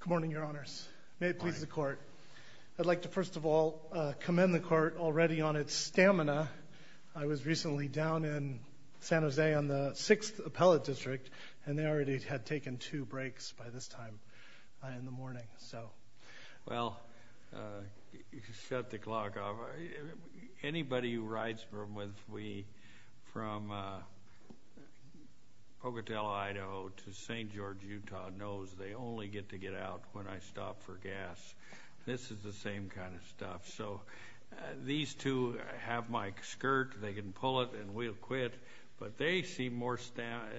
Good morning, Your Honors. May it please the Court. I'd like to first of all commend the Court already on its stamina. I was recently down in San Jose on the 6th Appellate District and they already had taken two breaks by this time in the morning, so. Well, you shut the clock off. Anybody who rides with me from Pocatello, Idaho to St. George, Utah knows they only get to get out when I stop for gas. This is the same kind of stuff, so. These two have my skirt. They can pull it and we'll quit, but they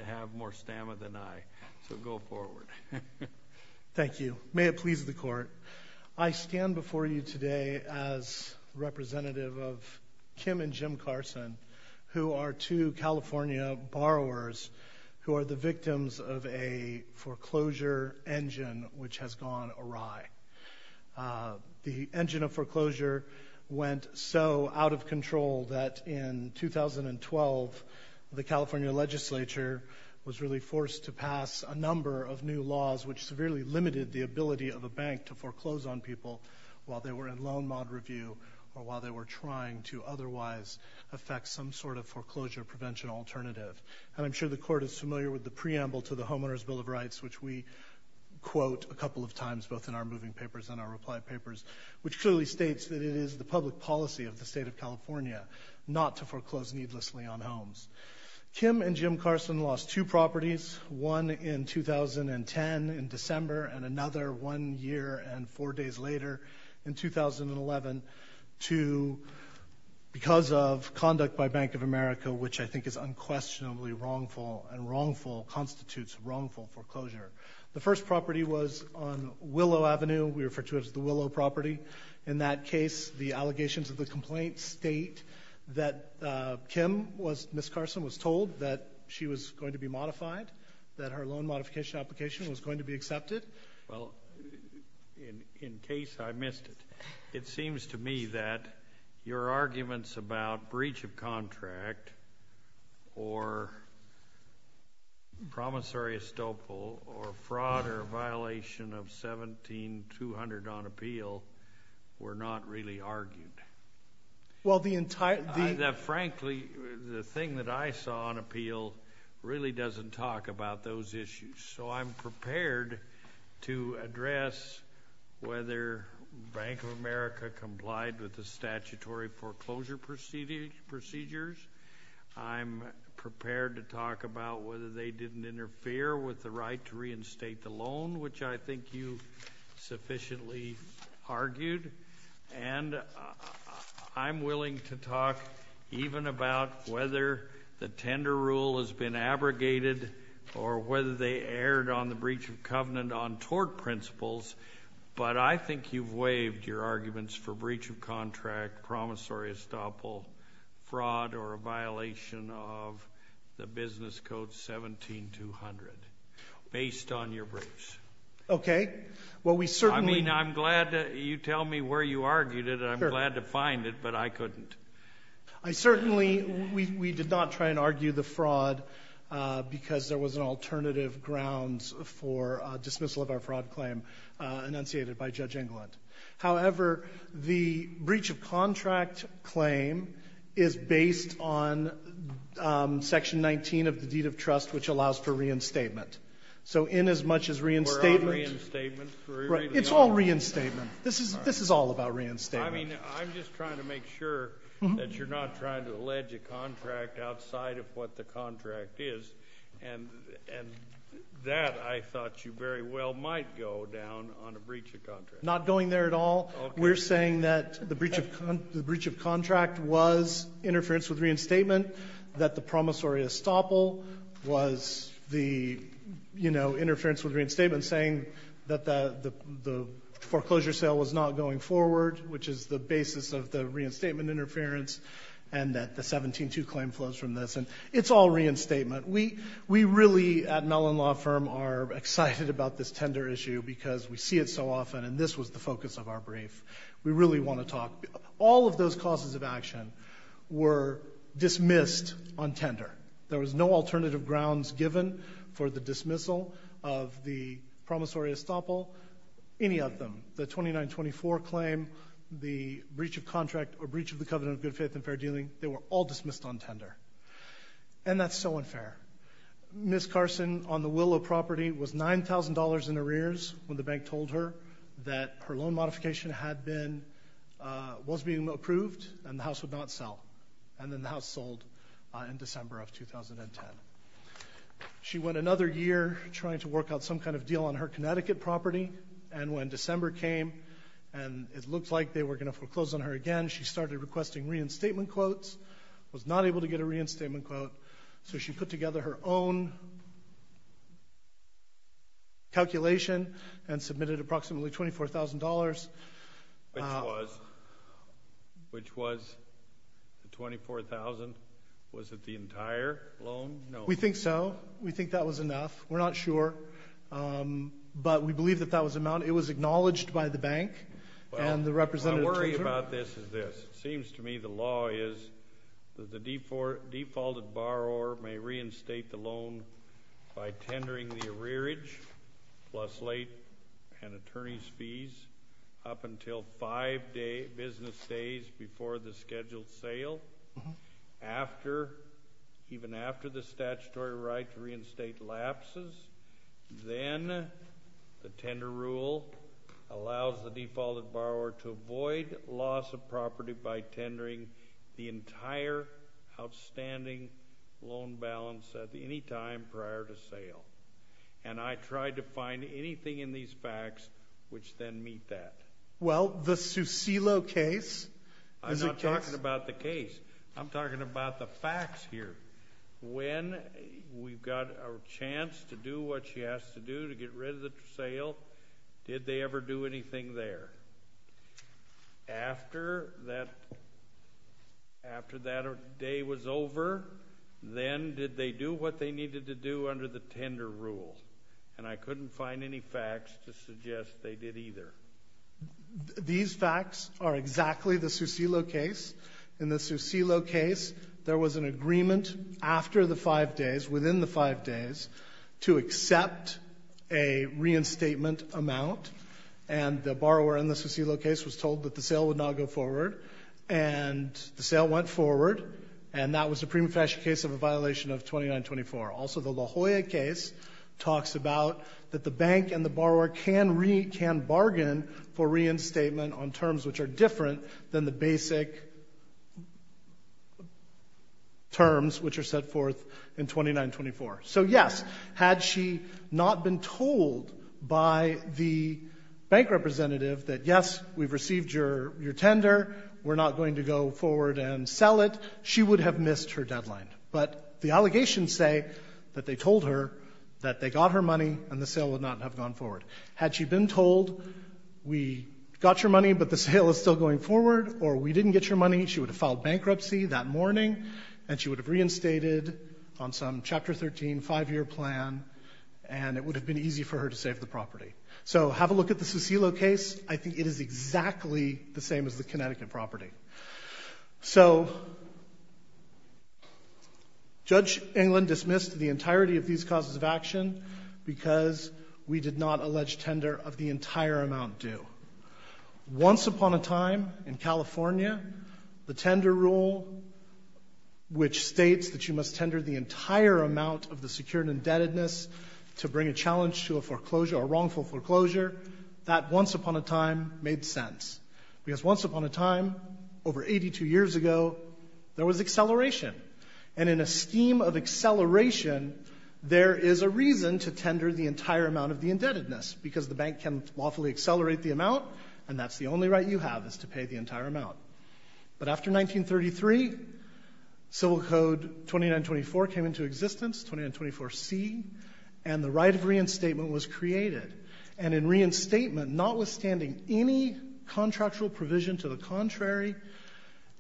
have more stamina than I, so go forward. Thank you. May it please the Court. I stand before you today as representative of Kim and Jim Carson, who are two California borrowers who are the victims of a foreclosure engine which has gone awry. The engine of foreclosure went so out of control that in 2012 the California legislature was really forced to pass a number of new laws which severely limited the ability of a bank to foreclose on people while they were in loan mod review or while they were trying to otherwise affect some sort of foreclosure prevention alternative. And I'm sure the Court is familiar with the preamble to the Homeowners' Bill of Rights, which we quote a couple of times both in our moving papers and our reply papers, which clearly states that it is the public policy of the state of California not to foreclose needlessly on homes. Kim and Jim Carson lost two properties, one in 2010 in December and another one year and four days later in 2011 because of conduct by Bank of America, which I think is unquestionably wrongful and constitutes wrongful foreclosure. The first property was on Willow Avenue. We refer to it as the Willow property. In that case, the allegations of the complaint state that Kim, Ms. Carson, was told that she was going to be modified, that her loan modification application was going to be accepted. Well, in case I missed it, it seems to me that your arguments about breach of contract or promissory estoppel or fraud or violation of 17200 on appeal were not really argued. Frankly, the thing that I saw on appeal really doesn't talk about those issues. So I'm prepared to address whether Bank of America complied with the statutory foreclosure procedures. I'm prepared to talk about whether they didn't interfere with the right to reinstate the loan, which I think you sufficiently argued. And I'm willing to talk even about whether the tender rule has been abrogated or whether they erred on the breach of covenant on tort principles. But I think you've waived your arguments for breach of contract, promissory estoppel, fraud, or violation of the business code 17200 based on your briefs. Okay. Well, we certainly— I mean, I'm glad you tell me where you argued it. I'm glad to find it, but I couldn't. I certainly—we did not try and argue the fraud because there was an alternative grounds for dismissal of our fraud claim enunciated by Judge Englund. However, the breach of contract claim is based on Section 19 of the Deed of Trust, which allows for reinstatement. So in as much as reinstatement— We're on reinstatement. It's all reinstatement. This is all about reinstatement. I mean, I'm just trying to make sure that you're not trying to allege a contract outside of what the contract is. And that, I thought you very well might go down on a breach of contract. Not going there at all. Okay. We're saying that the breach of contract was interference with reinstatement, that the promissory estoppel was the, you know, interference with reinstatement, saying that the foreclosure sale was not going forward, which is the basis of the reinstatement interference, and that the 17-2 claim flows from this. And it's all reinstatement. We really at Mellon Law Firm are excited about this tender issue because we see it so often, and this was the focus of our brief. We really want to talk—all of those causes of action were dismissed on tender. There was no alternative grounds given for the dismissal of the promissory estoppel, any of them. The 2924 claim, the breach of contract, or breach of the covenant of good faith and fair dealing, they were all dismissed on tender. And that's so unfair. Ms. Carson, on the will of property, was $9,000 in arrears when the bank told her that her loan modification had been—was being approved and the house would not sell. And then the house sold in December of 2010. She went another year trying to work out some kind of deal on her Connecticut property, and when December came and it looked like they were going to foreclose on her again, she started requesting reinstatement quotes, was not able to get a reinstatement quote, so she put together her own calculation and submitted approximately $24,000. Which was the 24,000—was it the entire loan? No. We think so. We think that was enough. We're not sure, but we believe that that was the amount. It was acknowledged by the bank and the representative told her. Well, my worry about this is this. It seems to me the law is that the defaulted borrower may reinstate the loan by tendering the arrearage plus late and attorney's fees up until five business days before the scheduled sale, even after the statutory right to reinstate lapses. Then the tender rule allows the defaulted borrower to avoid loss of property by tendering the entire outstanding loan balance at any time prior to sale. And I tried to find anything in these facts which then meet that. Well, the Susilo case is a case— I'm not talking about the case. I'm talking about the facts here. When we've got a chance to do what she has to do to get rid of the sale, did they ever do anything there? After that day was over, then did they do what they needed to do under the tender rule? And I couldn't find any facts to suggest they did either. These facts are exactly the Susilo case. In the Susilo case, there was an agreement after the five days, within the five days, to accept a reinstatement amount, and the borrower in the Susilo case was told that the sale would not go forward. And the sale went forward, and that was a premature case of a violation of 2924. Also, the La Jolla case talks about that the bank and the borrower can bargain for reinstatement on terms which are different than the basic terms which are set forth in 2924. So yes, had she not been told by the bank representative that, yes, we've received your tender, we're not going to go forward and sell it, she would have missed her deadline. But the allegations say that they told her that they got her money, and the sale would not have gone forward. Had she been told, we got your money, but the sale is still going forward, or we didn't get your money, she would have filed bankruptcy that morning, and she would have reinstated on some Chapter 13 five-year plan, and it would have been easy for her to save the property. So have a look at the Susilo case. I think it is exactly the same as the Connecticut property. So Judge England dismissed the entirety of these causes of action because we did not allege tender of the entire amount due. Once upon a time in California, the tender rule, which states that you must tender the entire amount of the secured indebtedness to bring a challenge to a foreclosure, a wrongful foreclosure, that once upon a time made sense. Because once upon a time, over 82 years ago, there was acceleration. And in a scheme of acceleration, there is a reason to tender the entire amount of the indebtedness, because the bank can lawfully accelerate the amount, and that's the only right you have is to pay the entire amount. But after 1933, Civil Code 2924 came into existence, 2924C, and the right of reinstatement was created. And in reinstatement, notwithstanding any contractual provision to the contrary,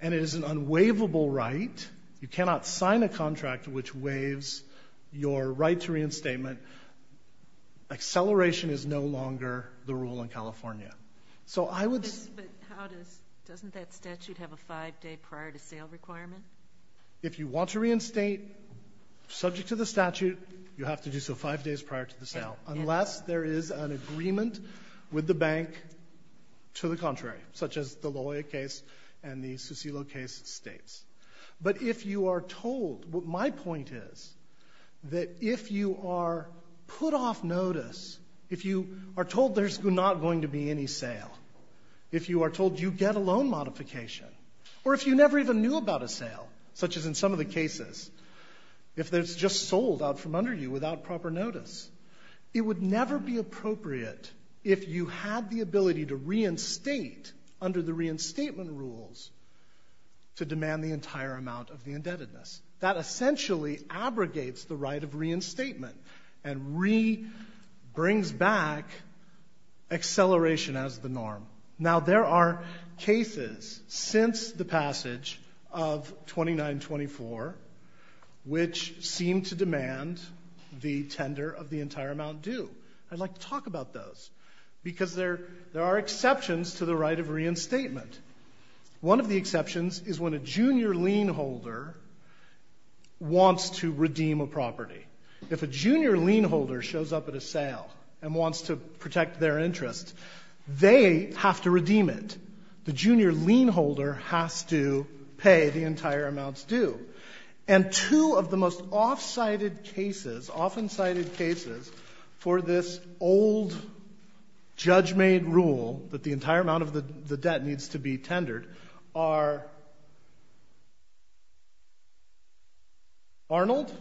and it is an unwaivable right, you cannot sign a contract which waives your right to reinstatement, acceleration is no longer the rule in California. So I would say to the Court, but how does, doesn't that statute have a five-day prior-to-sale requirement? If you want to reinstate subject to the statute, you have to do so five days prior to the sale. Unless there is an agreement with the bank to the contrary, such as the Loya case and the Susilo case states. But if you are told, what my point is, that if you are put off notice, if you are told there's not going to be any sale, if you are told you get a loan modification, or if you never even knew about a sale, such as in some of the cases, if it's just sold out from under you without proper notice, it would never be appropriate if you had the ability to reinstate, under the reinstatement rules, to demand the entire amount of the indebtedness. That essentially abrogates the right of reinstatement and re-brings back acceleration as the norm. Now, there are cases since the passage of 2924 which seem to demand the tender of the entire amount due. I'd like to talk about those, because there are exceptions to the right of reinstatement. One of the exceptions is when a junior lien holder wants to redeem a property. If a junior lien holder shows up at a sale and wants to protect their interest, they have to redeem it. The junior lien holder has to pay the entire amount due. And two of the most often-cited cases for this old, judge-made rule that the entire amount of the debt needs to be tendered are Arnold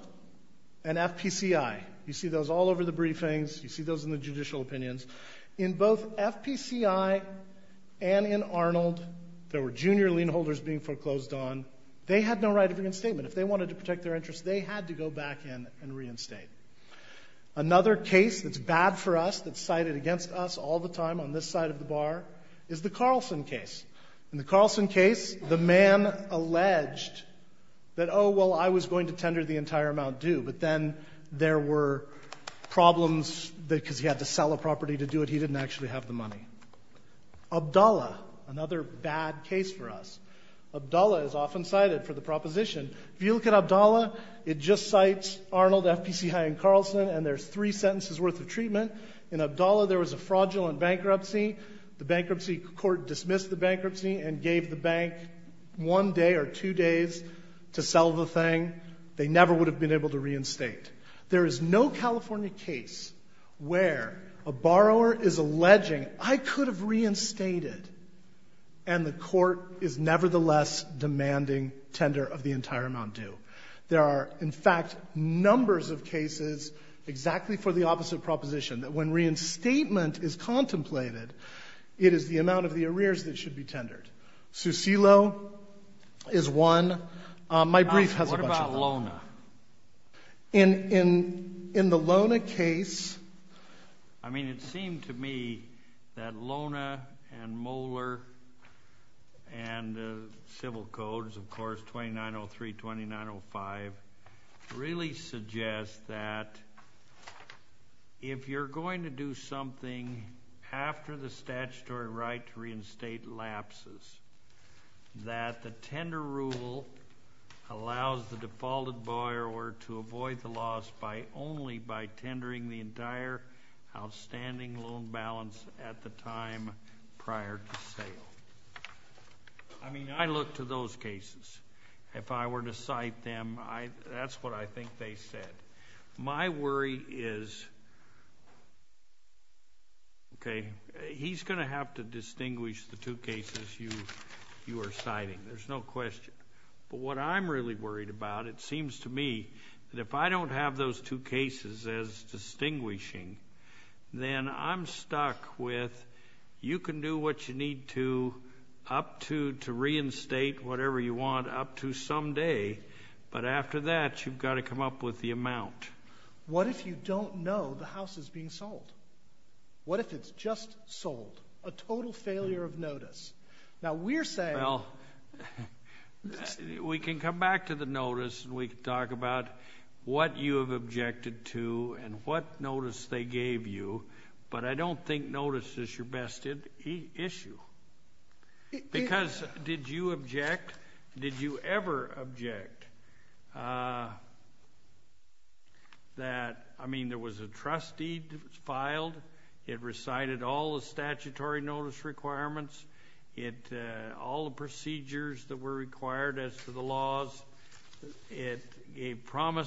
and FPCI. You see those all over the briefings. You see those in the judicial opinions. In both FPCI and in Arnold, there were junior lien holders being foreclosed on. They had no right of reinstatement. If they wanted to protect their interest, they had to go back in and reinstate. Another case that's bad for us, that's cited against us all the time on this side of the bar, is the Carlson case. In the Carlson case, the man alleged that, oh, well, I was going to tender the entire amount due, but then there were problems because he had to sell a property to do it. He didn't actually have the money. Abdallah, another bad case for us. Abdallah is often cited for the proposition. If you look at Abdallah, it just cites Arnold, FPCI, and Carlson, and there's three sentences worth of treatment. In Abdallah, there was a fraudulent bankruptcy. The bankruptcy court dismissed the bankruptcy and gave the bank one day or two days to sell the thing. They never would have been able to reinstate. There is no California case where a borrower is alleging, I could have reinstated, and the court is nevertheless demanding tender of the entire amount due. There are, in fact, numbers of cases exactly for the opposite proposition, that when reinstatement is contemplated, it is the amount of the arrears that should be tendered. Susilo is one. My brief has a bunch of them. In the Lona case... I mean, it seemed to me that Lona and Moeller and the civil codes, of course, 2903, 2905, really suggest that if you're going to do something after the statutory right to reinstate lapses, that the tender rule allows the defaulted borrower to avoid the loss only by tendering the entire outstanding loan balance at the time prior to sale. I mean, I look to those cases. If I were to cite them, that's what I think they said. My worry is... Okay. He's going to have to distinguish the two cases you are citing. There's no question. But what I'm really worried about, it seems to me that if I don't have those two cases as distinguishing, then I'm stuck with, you can do what you need to up to to reinstate whatever you want up to someday, but after that, you've got to come up with the amount. What if you don't know the house is being sold? What if it's just sold? A total failure of notice. Now, we're saying... Well, we can come back to the notice and we can talk about what you have objected to and what notice they gave you, but I don't think notice is your best issue. Because did you object? Did you ever object that, I mean, there was a trust deed that was filed, it recited all the statutory notice requirements, all the procedures that were required as to the laws, it gave prima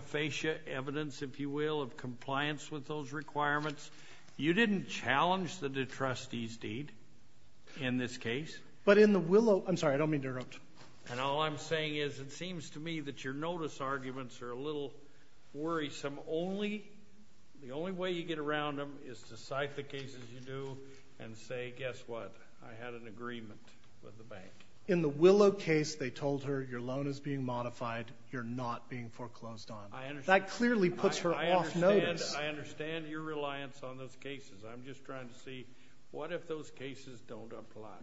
facie evidence, if you will, of compliance with those requirements. You didn't challenge the trustee's deed in this case. But in the Willow... I'm sorry, I don't mean to interrupt. And all I'm saying is it seems to me that your notice arguments are a little worrisome. The only way you get around them is to cite the cases you do and say, guess what, I had an agreement with the bank. In the Willow case, they told her, your loan is being modified, you're not being foreclosed on. That clearly puts her off notice. I understand your reliance on those cases. I'm just trying to see, what if those cases don't apply?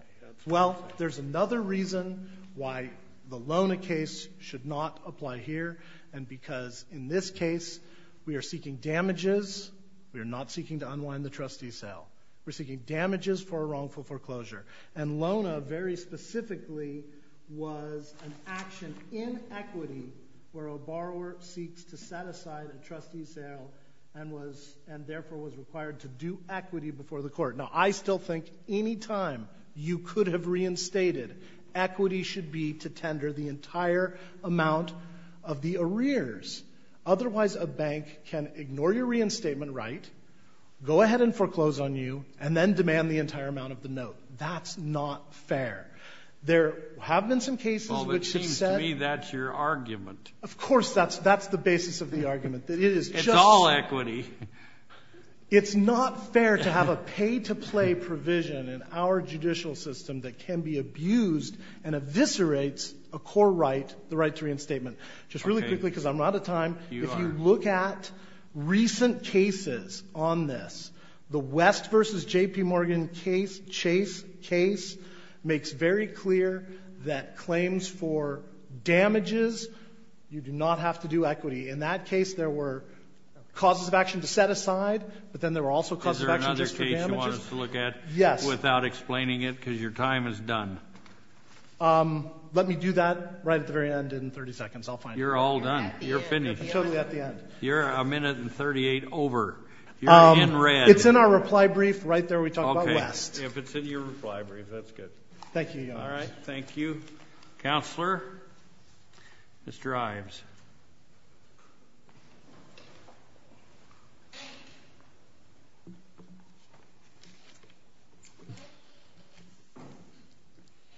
Well, there's another reason why the Lona case should not apply here, and because in this case, we are seeking damages, we are not seeking to unwind the trustee's sale. We're seeking damages for a wrongful foreclosure. And Lona, very specifically, was an action in equity where a borrower seeks to set aside a trustee's sale and therefore was required to do equity before the court. Now, I still think any time you could have reinstated, equity should be to tender the entire amount of the arrears. Otherwise, a bank can ignore your reinstatement right, go ahead and foreclose on you, and then demand the entire amount of the note. That's not fair. There have been some cases which have said... Well, it seems to me that's your argument. Of course, that's the basis of the argument. It's all equity. It's not fair to have a pay-to-play provision in our judicial system that can be abused and eviscerates a core right, the right to reinstatement. Just really quickly, because I'm out of time. If you look at recent cases on this, the West v. J.P. Morgan case, Chase case, makes very clear that claims for damages, you do not have to do equity. In that case, there were causes of action to set aside, but then there were also causes of action just for damages. Is there another case you want us to look at? Yes. Without explaining it, because your time is done. Let me do that right at the very end in 30 seconds. I'll find it. You're all done. You're finished. I'm totally at the end. You're a minute and 38 over. You're in red. It's in our reply brief right there. We talk about West. Okay. If it's in your reply brief, that's good. Thank you, Your Honor. All right. Thank you. Counselor, Mr. Ives.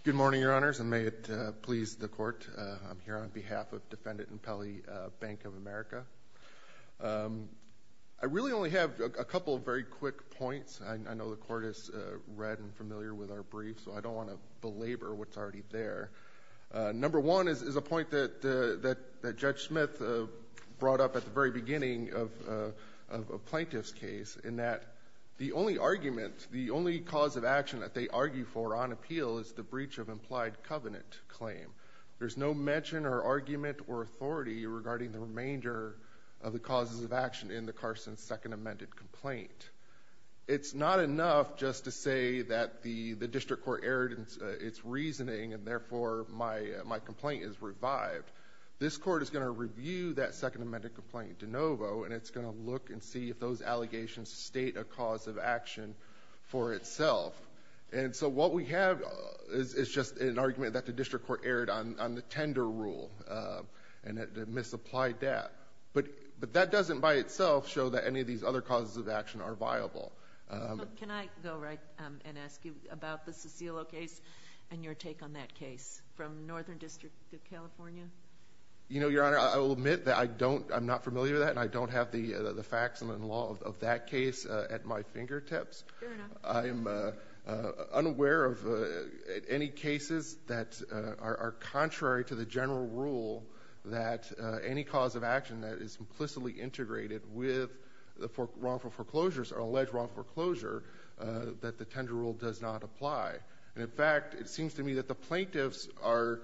Good morning, Your Honors, and may it please the Court. I'm here on behalf of Defendant and Pelley Bank of America. I really only have a couple of very quick points. I know the Court is read and familiar with our brief, so I don't want to belabor what's already there. Number one is a point that Judge Smith brought up at the very beginning of a plaintiff's case in that the only argument, the only cause of action that they argue for on appeal is the breach of implied covenant claim. There's no mention or argument or authority regarding the remainder of the causes of action in the Carson Second Amended Complaint. It's not enough just to say that the district court erred in its reasoning, and therefore, my complaint is revived. This Court is going to review that Second Amended Complaint de novo, and it's going to look and see if those allegations state a cause of action for itself. And so what we have is just an argument that the district court erred on the tender rule and it misapplied that. But that doesn't by itself show that any of these other causes of action are viable. Can I go right and ask you about the Cicillo case and your take on that case from Northern District of California? Your Honor, I will admit that I'm not familiar with that and I don't have the facts and the law of that case at my fingertips. I'm unaware of any cases that are contrary to the general rule that any cause of action that is implicitly integrated with wrongful foreclosures or alleged wrongful foreclosure that the tender rule does not apply. And in fact, it seems to me that the plaintiffs are,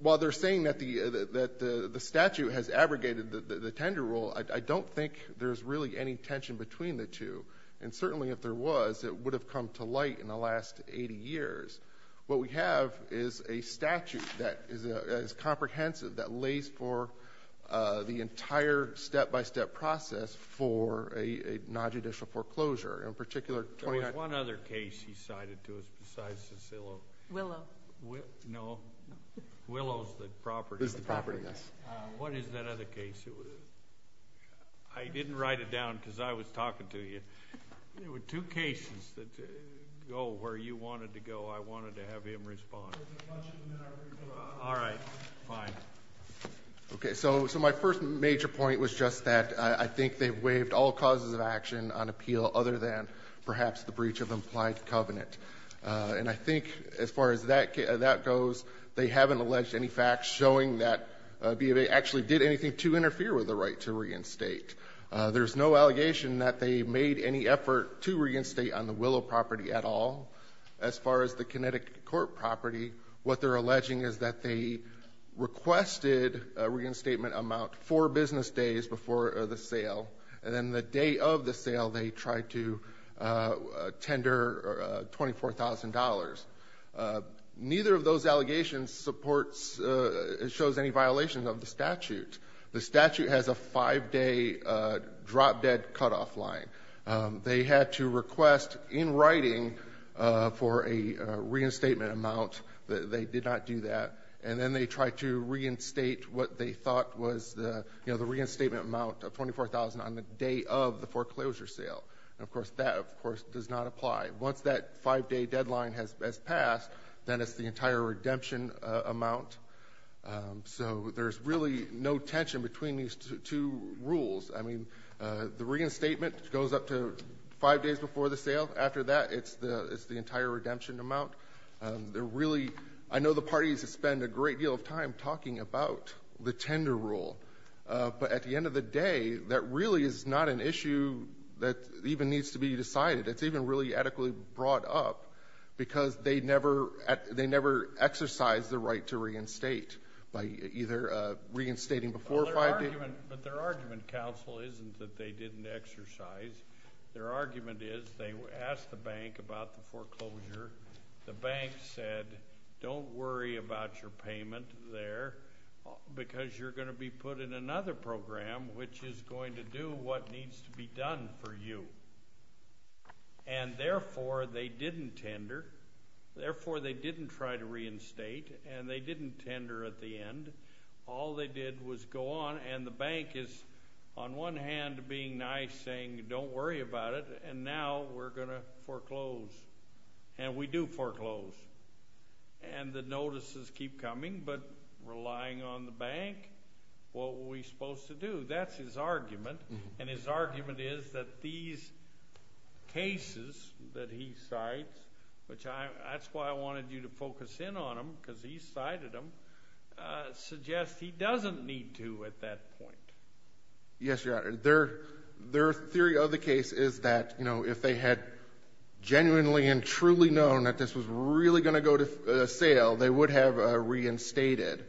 while they're saying that the statute has abrogated the tender rule, I don't think there's really any tension between the two. And certainly if there was, it would have come to light in the last 80 years. What we have is a statute that is comprehensive that lays for the entire step-by-step process for a nonjudicial foreclosure. In particular... There was one other case he cited to us besides Cicillo. Willow. No. Willow's the property. What is that other case? I didn't write it down because I was talking to you. There were two cases that go where you wanted to go. I wanted to have him respond. All right. Fine. Okay, so my first major point was just that I think they've waived all causes of action on appeal other than perhaps the breach of implied covenant. And I think as far as that goes, they haven't alleged any facts showing that BIA actually did anything to interfere with the right to reinstate. There's no allegation that they made any effort to reinstate on the Willow property at all. As far as the Kinetic Court property, what they're alleging is that they requested a reinstatement amount four business days before the sale. And then the day of the sale, they tried to tender $24,000. Neither of those allegations supports... shows any violation of the statute. The statute has a five-day drop-dead cut-off line. They had to request in writing for a reinstatement amount. They did not do that. And then they tried to reinstate what they thought was the reinstatement amount of $24,000 on the day of the foreclosure sale. And, of course, that, of course, does not apply. Once that five-day deadline has passed, then it's the entire redemption amount. So there's really no tension between these two rules. I mean, the reinstatement goes up to five days before the sale. After that, it's the entire redemption amount. They're really... I know the parties have spent a great deal of time talking about the tender rule. But at the end of the day, that really is not an issue that even needs to be decided. It's even really adequately brought up because they never exercised the right to reinstate by either reinstating before five days... But their argument, counsel, isn't that they didn't exercise. Their argument is they asked the bank about the foreclosure. The bank said, don't worry about your payment there because you're going to be put in another program which is going to do what needs to be done for you. And, therefore, they didn't tender. Therefore, they didn't try to reinstate. And they didn't tender at the end. All they did was go on, and the bank is, on one hand, being nice, saying, don't worry about it, and now we're going to foreclose. And we do foreclose. And the notices keep coming, but relying on the bank, what were we supposed to do? That's his argument. And his argument is that these cases that he cites, which that's why I wanted you to focus in on them because he cited them, suggest he doesn't need to at that point. Yes, Your Honor. Their theory of the case is that, you know, if they had genuinely and truly known that this was really going to go to sale, they would have reinstated.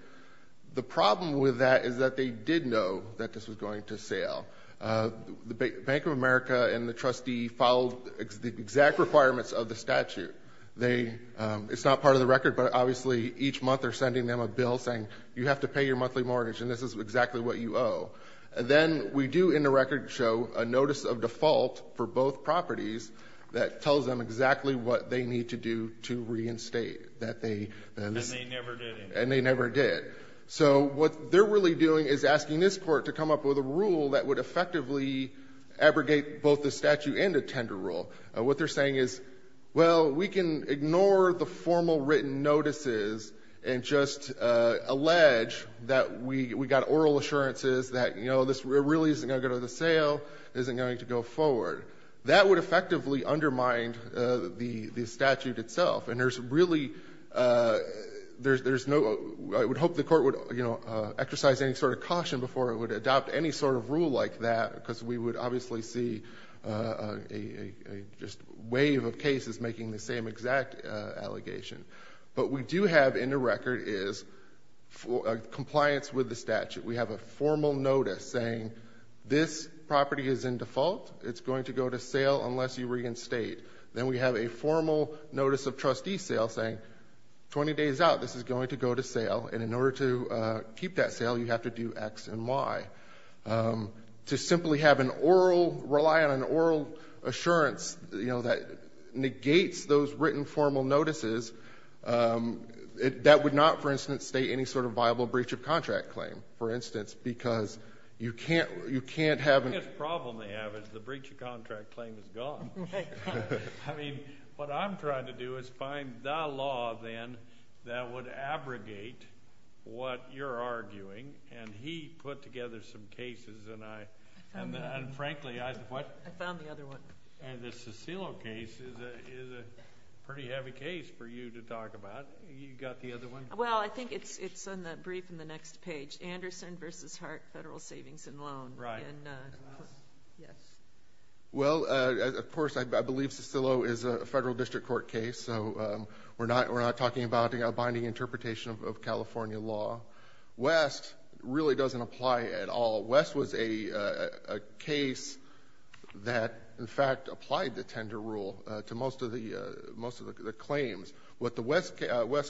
The problem with that is that they did know that this was going to sale. The Bank of America and the trustee followed the exact requirements of the statute. It's not part of the record, but obviously each month they're sending them a bill saying you have to pay your monthly mortgage and this is exactly what you owe. Then we do in the record show a notice of default for both properties that tells them exactly what they need to do to reinstate. And they never did. And they never did. So what they're really doing is asking this court to come up with a rule that would effectively abrogate both the statute and a tender rule. What they're saying is, well, we can ignore the formal written notices and just allege that we got oral assurances that, you know, this really isn't going to go to the sale, isn't going to go forward. That would effectively undermine the statute itself. And there's really, there's no, I would hope the court would, you know, exercise any sort of caution before it would adopt any sort of rule like that because we would obviously see a wave of cases making the same exact allegation. What we do have in the record is compliance with the statute. We have a formal notice saying this property is in default. It's going to go to sale unless you reinstate. Then we have a formal notice of trustee sale saying 20 days out, this is going to go to sale. And in order to keep that sale, you have to do X and Y. To simply have an oral, rely on an oral assurance, you know, that negates those written formal notices, that would not, for instance, state any sort of viable breach of contract claim, for instance, because you can't have... The biggest problem they have is the breach of contract claim is gone. I mean, what I'm trying to do is find the law then that would abrogate what you're arguing and he put together some cases and I... And frankly, I... I found the other one. And the Cicillo case is a pretty heavy case for you to talk about. You got the other one? Well, I think it's in the brief in the next page. Anderson v. Hart, Federal Savings and Loan. Right. Yes. Well, of course, I believe Cicillo is a federal district court case, so we're not talking about a binding interpretation of California law. West really doesn't apply at all. West was a case that, in fact, applied the tender rule to most of the claims. What the West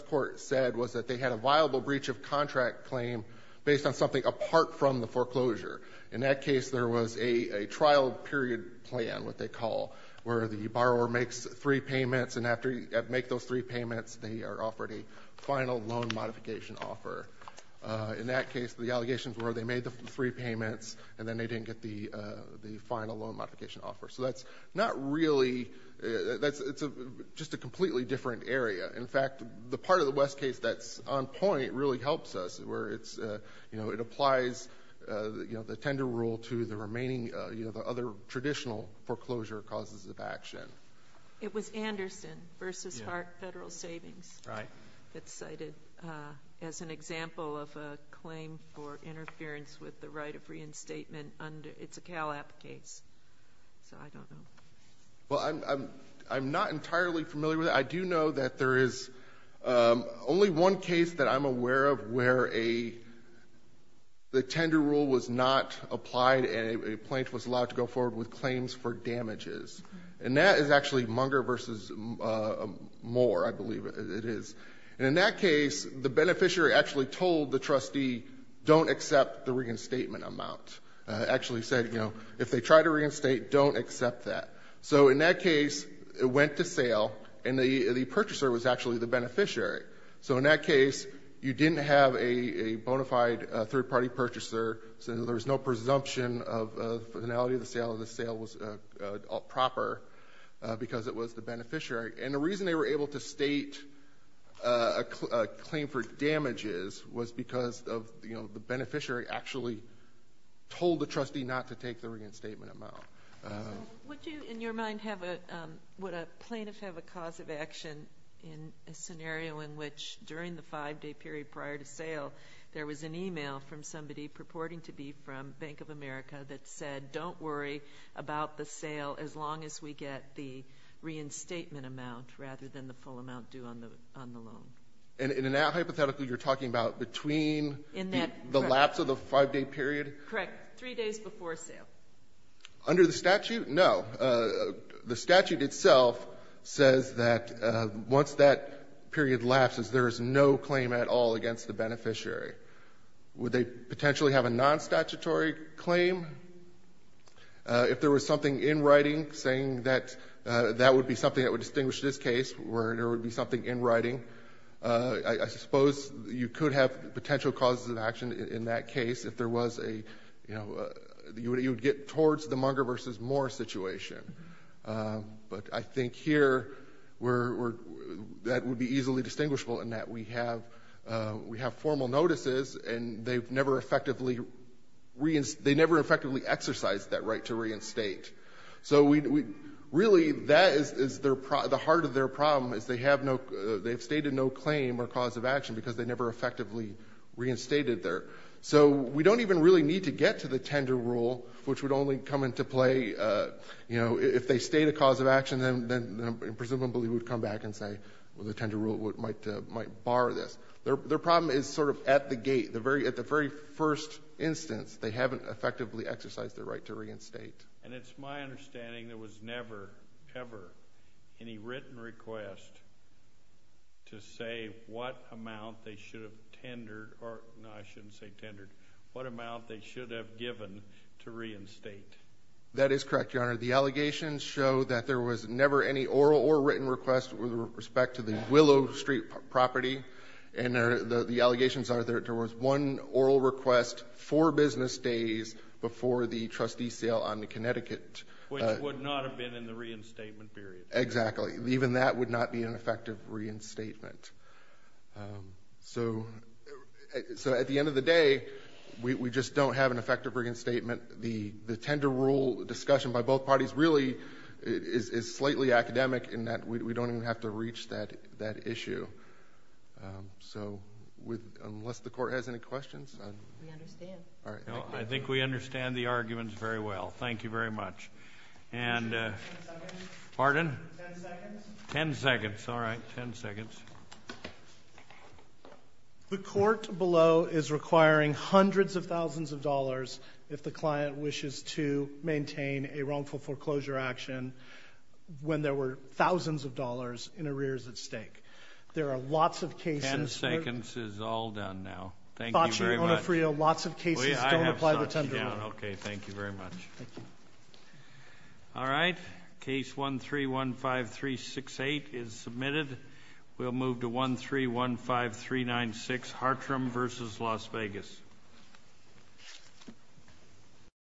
court said was that they had a viable breach of contract claim based on something apart from the foreclosure. In that case, there was a trial period plan, what they call, where the borrower makes three payments and after you make those three payments, they are offered a final loan modification offer. In that case, the allegations were they made the three payments and then they didn't get the final loan modification offer. So that's not really... It's just a completely different area. In fact, the part of the West case that's on point really helps us, where it applies the tender rule to the remaining, the other traditional foreclosure causes of action. It was Anderson v. Hart Federal Savings that's cited as an example of a claim for interference with the right of reinstatement under... It's a Cal App case, so I don't know. Well, I'm not entirely familiar with it. I do know that there is only one case that I'm aware of where the tender rule was not applied and a plaintiff was allowed to go forward with claims for damages. And that is actually Munger v. Moore, I believe it is. And in that case, the beneficiary actually told the trustee, don't accept the reinstatement amount. Actually said, you know, if they try to reinstate, don't accept that. So in that case, it went to sale and the purchaser was actually the beneficiary. So in that case, you didn't have a bona fide third-party purchaser, so there was no presumption of finality of the sale was proper because it was the beneficiary. And the reason they were able to state a claim for damages was because of, you know, the beneficiary actually told the trustee not to take the reinstatement amount. Would you, in your mind, have a... Would a plaintiff have a cause of action in a scenario in which, during the five-day period prior to sale, there was an email from somebody purporting to be from Bank of America that said, don't worry about the sale as long as we get the reinstatement amount rather than the full amount due on the loan? And hypothetically, you're talking about between the lapse of the five-day period? Correct. Three days before sale. Under the statute? No. The statute itself says that once that period lapses, there is no claim at all against the beneficiary. Would they potentially have a non-statutory claim? If there was something in writing saying that that would be something that would distinguish this case, where there would be something in writing, I suppose you could have potential causes of action in that case if there was a, you know... You would get towards the Munger v. Moore situation. But I think here, that would be easily distinguishable in that we have formal notices, and they've never effectively... They never effectively exercised that right to reinstate. So really, that is the heart of their problem, is they have stated no claim or cause of action because they never effectively reinstated there. So we don't even really need to get to the tender rule, which would only come into play... You know, if they state a cause of action, then presumably we'd come back and say, well, the tender rule might bar this. Their problem is sort of at the gate. At the very first instance, they haven't effectively exercised their right to reinstate. And it's my understanding there was never, ever, any written request to say what amount they should have tendered... No, I shouldn't say tendered. What amount they should have given to reinstate. That is correct, Your Honor. The allegations show that there was never any oral or written request with respect to the Willow Street property. And the allegations are there was one oral request four business days before the trustee sale on the Connecticut... Which would not have been in the reinstatement period. Exactly. Even that would not be an effective reinstatement. So at the end of the day, we just don't have an effective reinstatement. The tender rule discussion by both parties really is slightly academic in that we don't even have to reach that issue. So unless the court has any questions... We understand. I think we understand the arguments very well. Thank you very much. And... Pardon? Ten seconds. The court below is requiring hundreds of thousands of dollars if the client wishes to maintain a wrongful foreclosure action when there were thousands of dollars in arrears at stake. There are lots of cases... Ten seconds is all done now. Thank you very much. Lots of cases don't apply the tender rule. Okay, thank you very much. Thank you. All right. Case 1315368 is submitted. We'll move to 1315396, Hartram v. Las Vegas. Thank you.